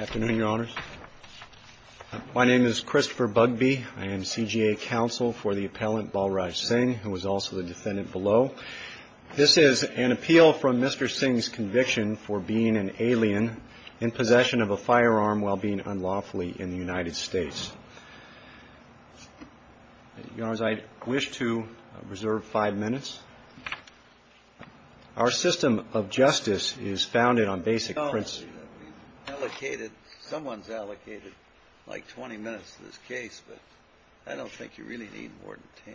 Afternoon, Your Honors. My name is Christopher Bugbee. I am CGA counsel for the appellant Balraj Singh, who is also the defendant below. This is an appeal from Mr. Singh's conviction for being an alien in possession of a firearm while being unlawfully in the United States. Your Honors, I wish to reserve five minutes. Our system of justice is founded on basic principles. Someone's allocated like 20 minutes to this case, but I don't think you really need more than 10.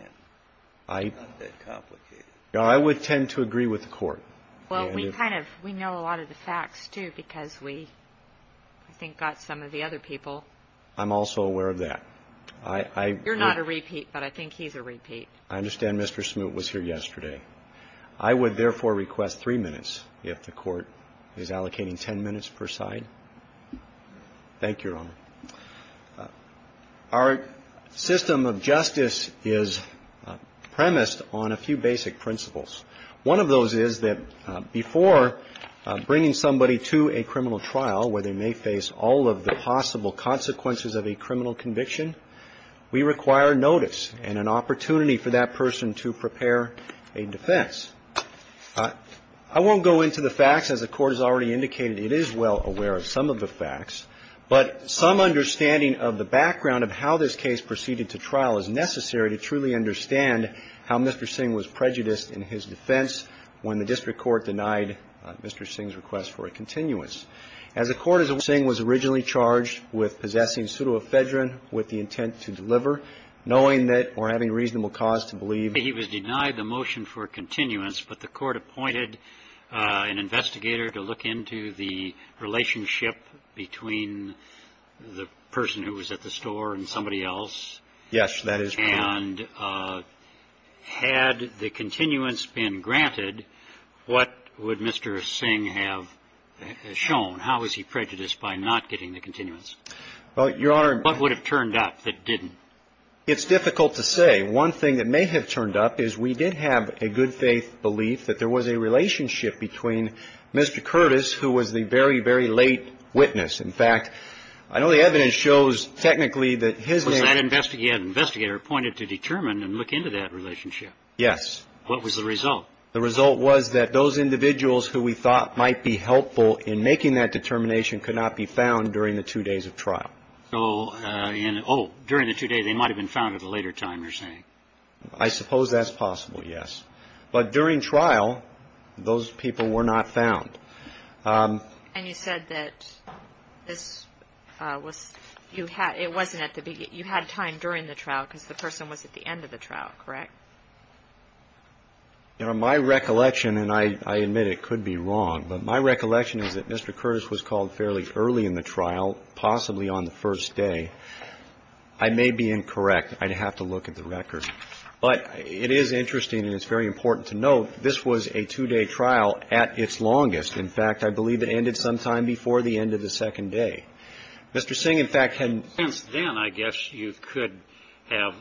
It's not that complicated. I would tend to agree with the court. Well, we know a lot of the facts, too, because we, I think, got some of the other people. I'm also aware of that. You're not a repeat, but I think he's a repeat. I understand Mr. Smoot was here yesterday. I would, therefore, request three minutes if the court is allocating 10 minutes per side. Thank you, Your Honor. Our system of justice is premised on a few basic principles. One of those is that before bringing somebody to a criminal trial where they may face all of the possible consequences of a criminal conviction, we require notice and an opportunity for that person to prepare a defense. I won't go into the facts. As the Court has already indicated, it is well aware of some of the facts, but some understanding of the background of how this case proceeded to trial is necessary to truly understand how Mr. Singh was prejudiced in his defense when the district court denied Mr. Singh's request for a continuance. As the Court is aware, Mr. Singh was originally charged with possessing pseudoephedrine with the intent to deliver, knowing that or having reasonable cause to believe. He was denied the motion for continuance, but the Court appointed an investigator to look into the relationship between the person who was at the store and somebody else. Yes, that is correct. And had the continuance been granted, what would Mr. Singh have shown? How was he prejudiced by not getting the continuance? Well, Your Honor — What would have turned up that didn't? It's difficult to say. One thing that may have turned up is we did have a good-faith belief that there was a relationship between Mr. Curtis, who was the very, very late witness. In fact, I know the evidence shows technically that his — Well, that investigator appointed to determine and look into that relationship. Yes. What was the result? The result was that those individuals who we thought might be helpful in making that determination could not be found during the two days of trial. Oh, during the two days, they might have been found at a later time, you're saying? I suppose that's possible, yes. But during trial, those people were not found. And you said that this was — you had — it wasn't at the — you had time during the trial because the person was at the end of the trial, correct? Your Honor, my recollection, and I admit it could be wrong, but my recollection is that Mr. Curtis was called fairly early in the trial, possibly on the first day. I may be incorrect. I'd have to look at the record. But it is interesting, and it's very important to note, this was a two-day trial at its longest. In fact, I believe it ended sometime before the end of the second day. Mr. Singh, in fact, had — Since then, I guess, you could have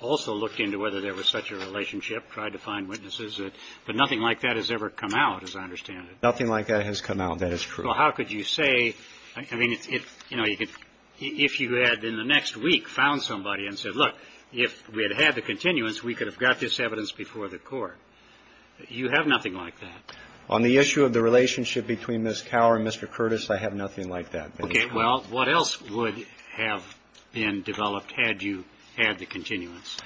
also looked into whether there was such a relationship, tried to find witnesses. But nothing like that has ever come out, as I understand it. Nothing like that has come out. That is true. Well, how could you say — I mean, you know, if you had in the next week found somebody and said, look, if we had had the continuance, we could have got this evidence before the court. You have nothing like that. On the issue of the relationship between Ms. Cower and Mr. Curtis, I have nothing like that. Okay. Well, what else would have been developed had you had the continuance?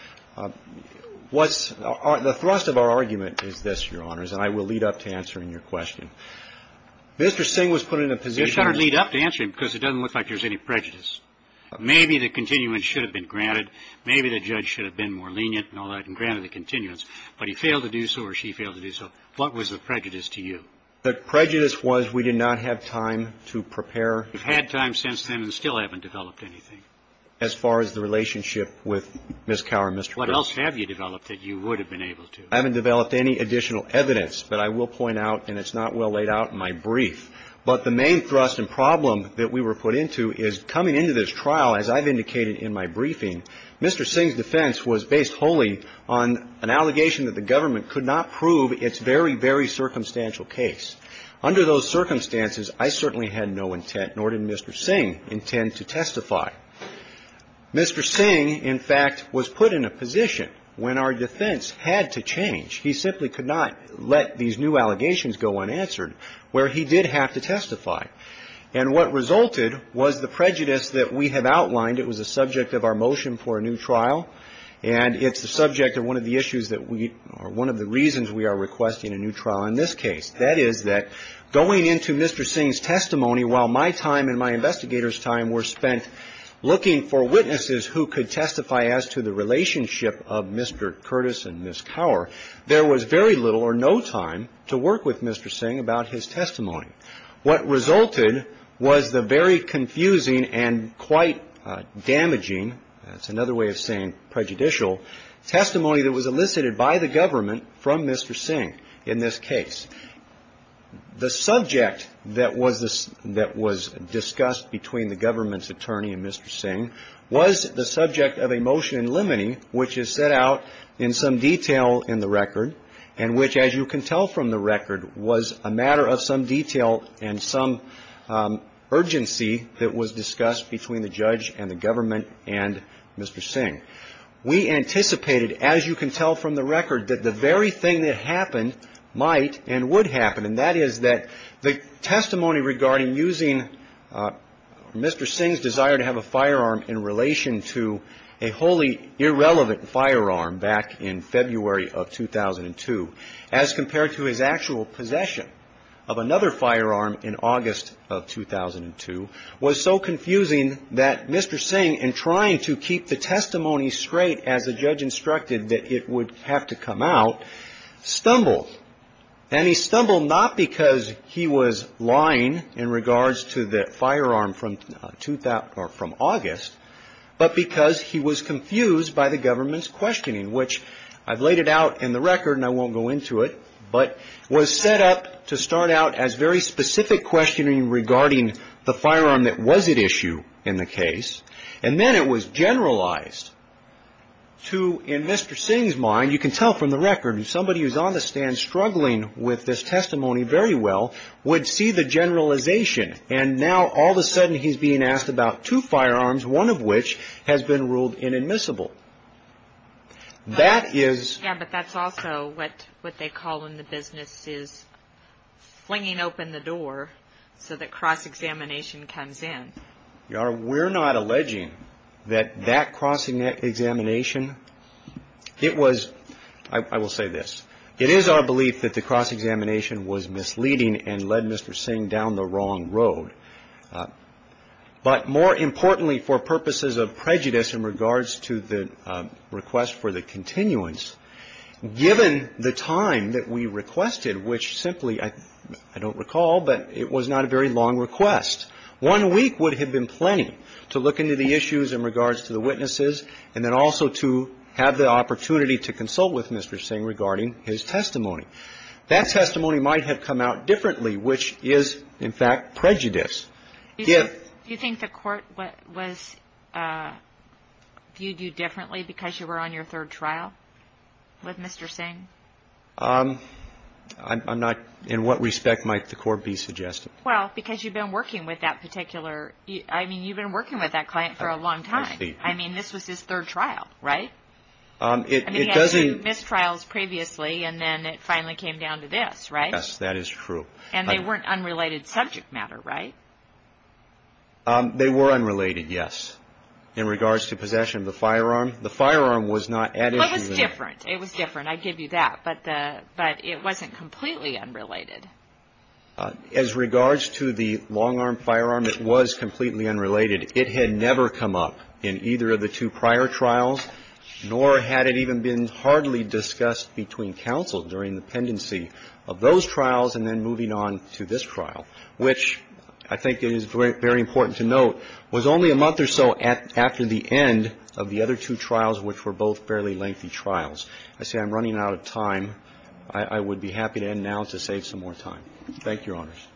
What's — the thrust of our argument is this, Your Honors, and I will lead up to answering your question. Mr. Singh was put in a position — Just try to lead up to answering, because it doesn't look like there's any prejudice. Maybe the continuance should have been granted. Maybe the judge should have been more lenient and all that and granted the continuance. But he failed to do so or she failed to do so. What was the prejudice to you? The prejudice was we did not have time to prepare. You've had time since then and still haven't developed anything. As far as the relationship with Ms. Cower and Mr. Curtis. What else have you developed that you would have been able to? I haven't developed any additional evidence, but I will point out, and it's not well laid out in my brief, but the main thrust and problem that we were put into is coming into this trial, as I've indicated in my briefing, Mr. Singh's defense was based wholly on an allegation that the government could not prove its very, very circumstantial case. Under those circumstances, I certainly had no intent, nor did Mr. Singh intend to testify. Mr. Singh, in fact, was put in a position when our defense had to change. He simply could not let these new allegations go unanswered, where he did have to testify. And what resulted was the prejudice that we have outlined. It was a subject of our motion for a new trial. And it's the subject of one of the issues that we or one of the reasons we are requesting a new trial in this case. That is that going into Mr. Singh's testimony while my time and my investigators' time were spent looking for witnesses who could testify as to the relationship of Mr. Curtis and Ms. Cower, there was very little or no time to work with Mr. Singh about his testimony. What resulted was the very confusing and quite damaging, that's another way of saying prejudicial, testimony that was elicited by the government from Mr. Singh in this case. The subject that was discussed between the government's attorney and Mr. Singh was the subject of a motion in limine which is set out in some detail in the record and which, as you can tell from the record, was a matter of some detail and some urgency that was discussed between the judge and the government and Mr. Singh. We anticipated, as you can tell from the record, that the very thing that happened might and would happen. And that is that the testimony regarding using Mr. Singh's desire to have a firearm in relation to a wholly irrelevant firearm back in February of 2002 as compared to his actual possession of another firearm in August of 2002 was so confusing that Mr. Singh, in trying to keep the testimony straight as the judge instructed that it would have to come out, stumbled. And he stumbled not because he was lying in regards to the firearm from August, but because he was confused by the government's questioning, which I've laid it out in the record and I won't go into it, but was set up to start out as very specific questioning regarding the firearm that was at issue in the case. And then it was generalized to, in Mr. Singh's mind, you can tell from the record, somebody who's on the stand struggling with this testimony very well would see the generalization. And now all of a sudden he's being asked about two firearms, one of which has been ruled inadmissible. That is. Yeah, but that's also what they call in the business is flinging open the door so that cross-examination comes in. We're not alleging that that cross-examination, it was, I will say this, it is our belief that the cross-examination was misleading and led Mr. Singh down the wrong road. But more importantly, for purposes of prejudice in regards to the request for the continuance, given the time that we requested, which simply, I don't recall, but it was not a very long request. One week would have been plenty to look into the issues in regards to the witnesses and then also to have the opportunity to consult with Mr. Singh regarding his testimony. That testimony might have come out differently, which is, in fact, prejudice. Do you think the court viewed you differently because you were on your third trial with Mr. Singh? In what respect might the court be suggesting? Well, because you've been working with that particular, I mean, you've been working with that client for a long time. I mean, this was his third trial, right? I mean, he had two mistrials previously, and then it finally came down to this, right? Yes, that is true. And they weren't unrelated subject matter, right? They were unrelated, yes. In regards to possession of the firearm, the firearm was not at issue. Well, it was different. It was different. I give you that. But it wasn't completely unrelated. As regards to the long-arm firearm, it was completely unrelated. It had never come up in either of the two prior trials, nor had it even been hardly discussed between counsel during the pendency of those trials and then moving on to this trial, which I think is very important to note, was only a month or so after the end of the other two trials, which were both fairly lengthy trials. I say I'm running out of time. I would be happy to end now to save some more time. Thank you, Your Honors.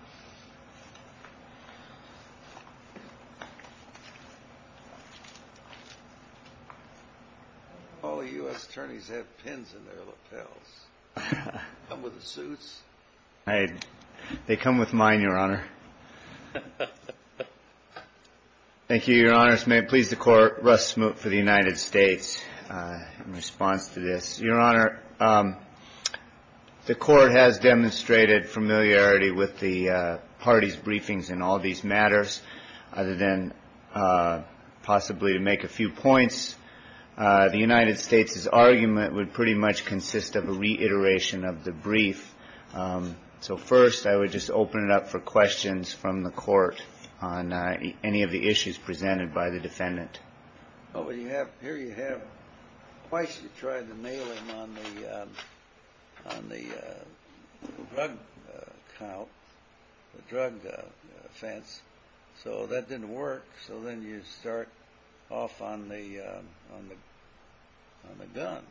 All U.S. attorneys have pins in their lapels. Come with suits? They come with mine, Your Honor. Thank you, Your Honors. May it please the Court, Russ Smoot for the United States in response to this. Your Honor, the Court has demonstrated familiarity with the parties' briefings in all these matters. Other than possibly to make a few points, the United States' argument would pretty much consist of a reiteration of the brief. So, first, I would just open it up for questions from the Court on any of the issues presented by the defendant. Well, here you have twice you tried to nail him on the drug count, the drug offense. So that didn't work. So then you start off on the gun.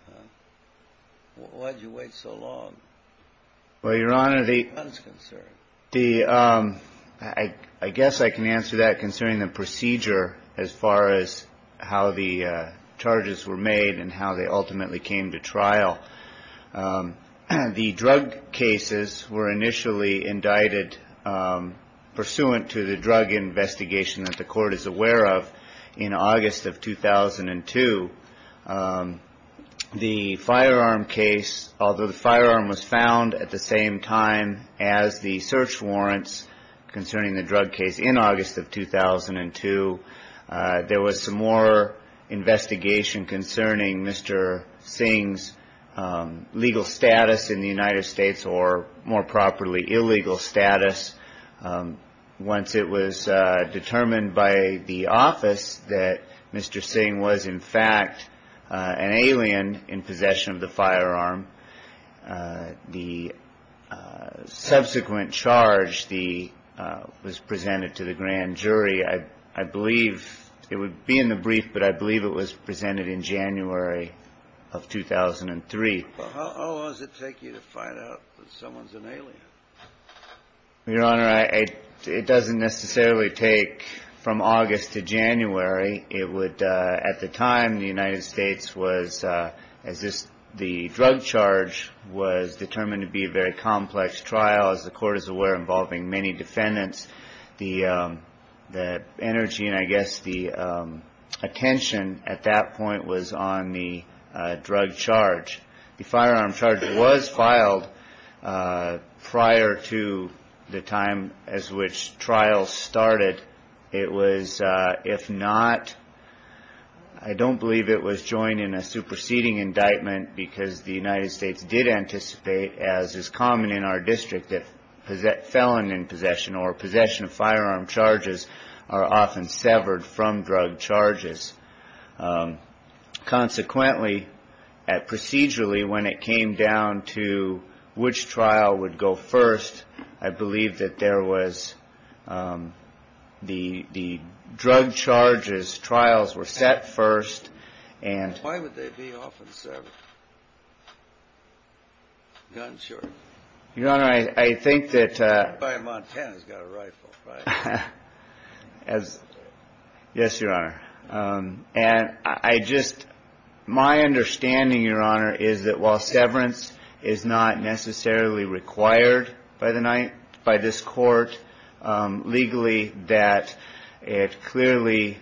Why did you wait so long? Well, Your Honor, I guess I can answer that concerning the procedure as far as how the charges were made and how they ultimately came to trial. The drug cases were initially indicted pursuant to the drug investigation that the Court is aware of in August of 2002. The firearm case, although the firearm was found at the same time as the search warrants concerning the drug case in August of 2002, there was some more investigation concerning Mr. Singh's legal status in the United States or, more properly, illegal status. Once it was determined by the office that Mr. Singh was, in fact, an alien in possession of the firearm, the subsequent charge was presented to the grand jury. I believe it would be in the brief, but I believe it was presented in January of 2003. Well, how long does it take you to find out that someone's an alien? Well, Your Honor, it doesn't necessarily take from August to January. It would, at the time, the United States was, as this, the drug charge was determined to be a very complex trial. As the Court is aware, involving many defendants, the energy and, I guess, the attention at that point was on the drug charge. The firearm charge was filed prior to the time as which trial started. It was, if not, I don't believe it was joined in a superseding indictment because the United States did anticipate, as is common in our district, that felon in possession or possession of firearm charges are often severed from drug charges. Consequently, procedurally, when it came down to which trial would go first, I believe that there was the drug charges trials were set first and... Why would they be often severed? Guns, you're... Your Honor, I think that... Everybody in Montana's got a rifle, right? Yes, Your Honor. And I just, my understanding, Your Honor, is that while severance is not necessarily required by this court legally, that it clearly,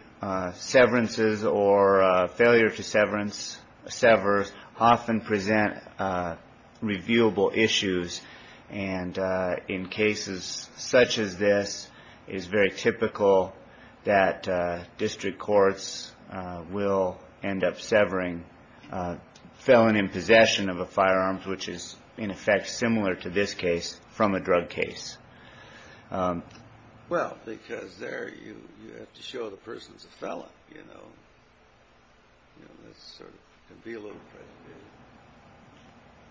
severances or failure to sever often present reviewable issues. And in cases such as this, it is very typical that district courts will end up severing a felon in possession of a firearm, which is, in effect, similar to this case from a drug case. Well, because there you have to show the person's a felon, you know. You know, that's sort of, can be a little...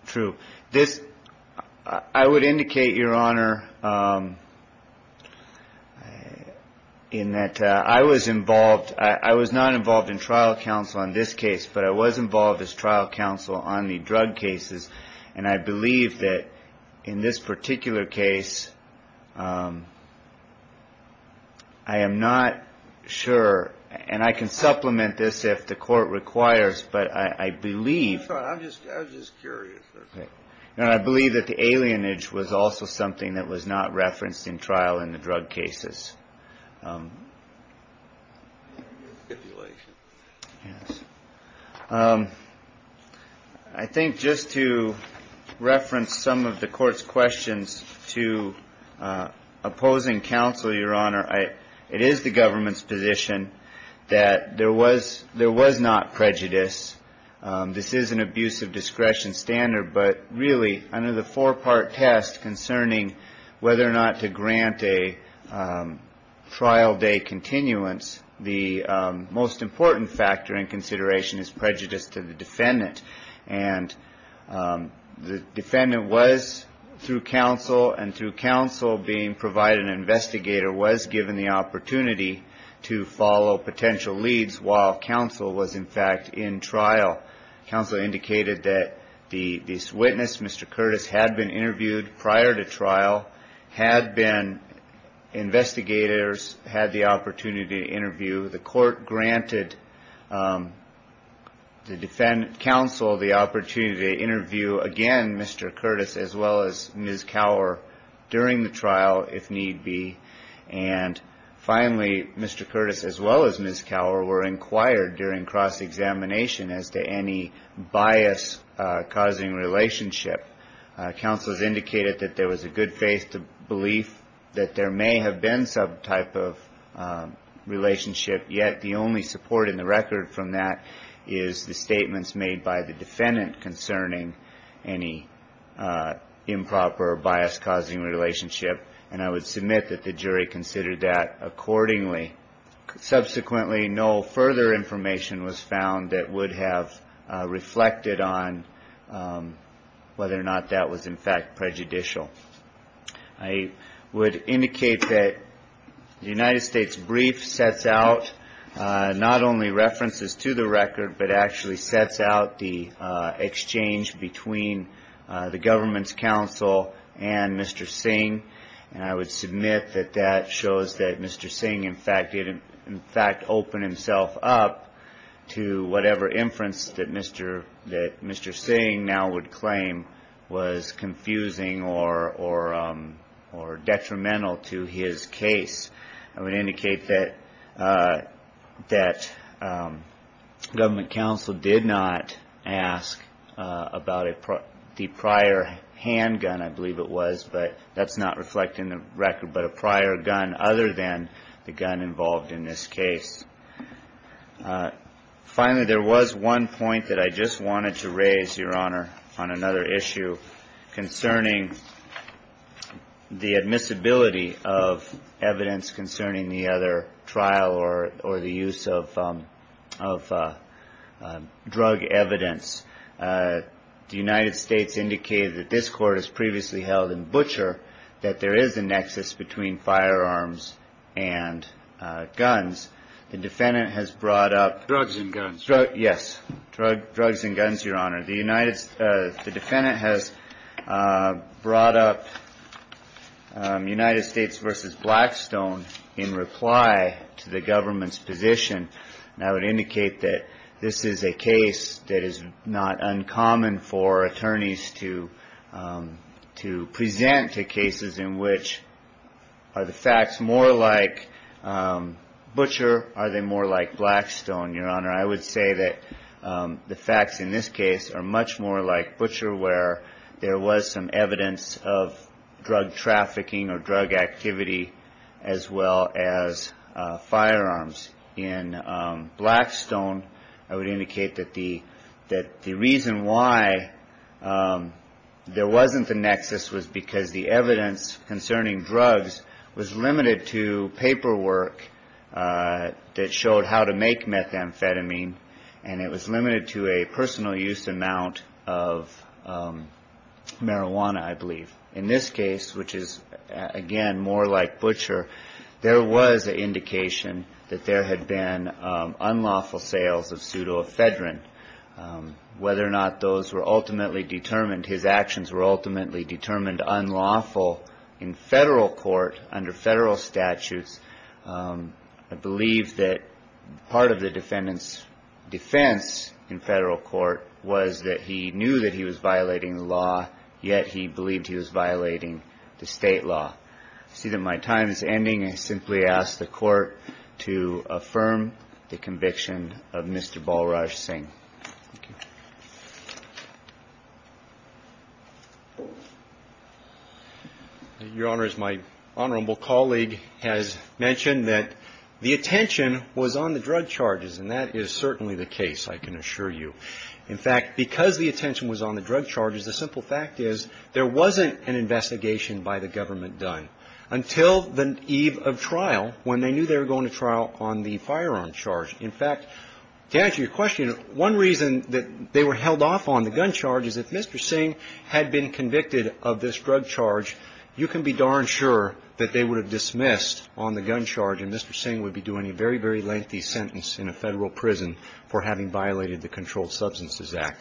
True. This, I would indicate, Your Honor, in that I was involved. I was not involved in trial counsel on this case, but I was involved as trial counsel on the drug cases. And I believe that in this particular case, I am not sure. And I can supplement this if the court requires, but I believe... That's fine. I'm just curious. And I believe that the alienage was also something that was not referenced in trial in the drug cases. I think just to reference some of the court's questions to opposing counsel, Your Honor, it is the government's position that there was not prejudice. This is an abuse of discretion standard. But really, under the four-part test concerning whether or not to grant a trial day continuance, the most important factor in consideration is prejudice to the defendant. And the defendant was, through counsel and through counsel being provided an investigator, was given the opportunity to follow potential leads while counsel was, in fact, in trial. Counsel indicated that this witness, Mr. Curtis, had been interviewed prior to trial, had been investigators, had the opportunity to interview. The court granted the defendant, counsel, the opportunity to interview, again, Mr. Curtis, as well as Ms. Cowher during the trial, if need be. And finally, Mr. Curtis, as well as Ms. Cowher, were inquired during cross-examination as to any bias-causing relationship. Counsel has indicated that there was a good faith belief that there may have been some type of relationship, yet the only support in the record from that is the statements made by the defendant concerning any improper or bias-causing relationship. And I would submit that the jury considered that accordingly. Subsequently, no further information was found that would have reflected on whether or not that was, in fact, prejudicial. I would indicate that the United States brief sets out not only references to the record, but actually sets out the exchange between the government's counsel and Mr. Singh. And I would submit that that shows that Mr. Singh, in fact, opened himself up to whatever inference that Mr. Singh now would claim was confusing or detrimental to his case. I would indicate that government counsel did not ask about the prior handgun, I believe it was, but that's not reflected in the record, but a prior gun other than the gun involved in this case. Finally, there was one point that I just wanted to raise, Your Honor, on another issue concerning the admissibility of evidence concerning the other trial or the use of drug evidence. The United States indicated that this court has previously held in Butcher that there is a nexus between firearms and guns. The defendant has brought up... Drugs and guns. Yes, drugs and guns, Your Honor. The defendant has brought up United States v. Blackstone in reply to the government's position. And I would indicate that this is a case that is not uncommon for attorneys to present to cases in which are the facts more like Butcher, are they more like Blackstone, Your Honor? I would say that the facts in this case are much more like Butcher, where there was some evidence of drug trafficking or drug activity as well as firearms. In Blackstone, I would indicate that the reason why there wasn't the nexus was because the evidence concerning drugs was limited to paperwork that showed how to make methamphetamine, and it was limited to a personal use amount of marijuana, I believe. In this case, which is, again, more like Butcher, there was an indication that there had been unlawful sales of pseudoephedrine. Whether or not those were ultimately determined, his actions were ultimately determined unlawful in federal court under federal statutes, I believe that part of the defendant's defense in federal court was that he knew that he was violating the law, yet he believed he was violating the state law. To see that my time is ending, I simply ask the court to affirm the conviction of Mr. Balraj Singh. Your Honor, as my honorable colleague has mentioned, that the attention was on the drug charges, and that is certainly the case, I can assure you. In fact, because the attention was on the drug charges, the simple fact is there wasn't an investigation by the government done until the eve of trial when they knew they were going to trial on the firearm charge. In fact, to answer your question, one reason that they were held off on the gun charge is if Mr. Singh had been convicted of this drug charge, you can be darn sure that they would have dismissed on the gun charge and Mr. Singh would be doing a very, very lengthy sentence in a federal prison for having violated the Controlled Substances Act.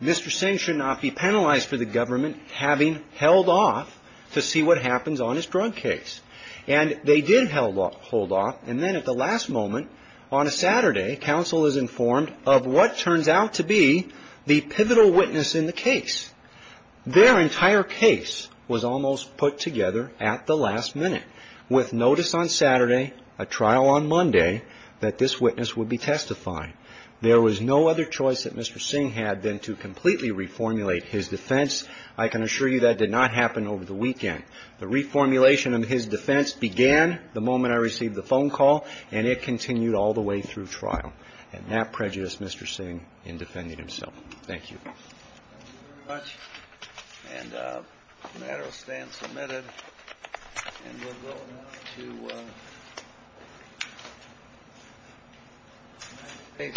Mr. Singh should not be penalized for the government having held off to see what happens on his drug case. And they did hold off. And then at the last moment, on a Saturday, counsel is informed of what turns out to be the pivotal witness in the case. Their entire case was almost put together at the last minute with notice on Saturday, a trial on Monday, that this witness would be testifying. There was no other choice that Mr. Singh had than to completely reformulate his defense. I can assure you that did not happen over the weekend. The reformulation of his defense began the moment I received the phone call, and it continued all the way through trial. And that prejudiced Mr. Singh in defending himself. Thank you. Thank you very much. And the matter will stand submitted. And we'll go now to Salas,